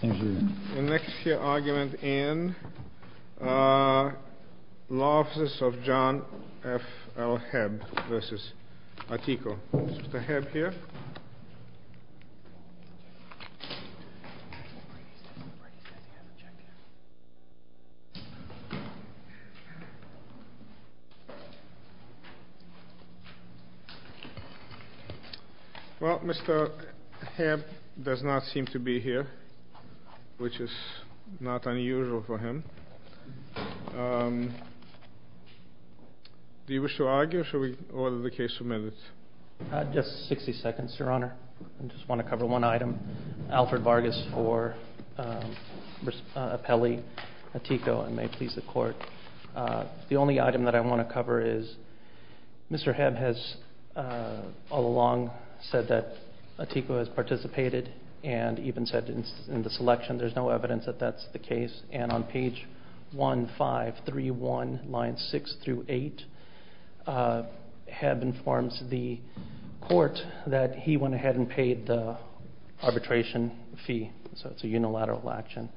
The next argument in Law Offices of John F.L. Hebb v. Ateco. Is Mr. Hebb here? Well, Mr. Hebb does not seem to be here, which is not unusual for him. Do you wish to argue, or should we order the case submitted? Just 60 seconds, Your Honor. I just want to cover one item. Alfred Vargas for Apelli v. Ateco, and may it please the Court. The only item that I want to cover is, Mr. Hebb has all along said that Ateco has participated, and even said in the selection there's no evidence that that's the case. And on page 1531, lines 6 through 8, Hebb informs the Court that he went ahead and paid the arbitration fee. So it's a unilateral action.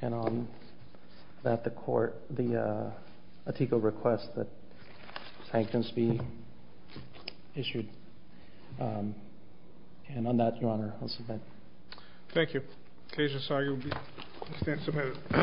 And on that, the Ateco requests that sanctions be issued. And on that, Your Honor, I'll submit. Thank you. Case is argued.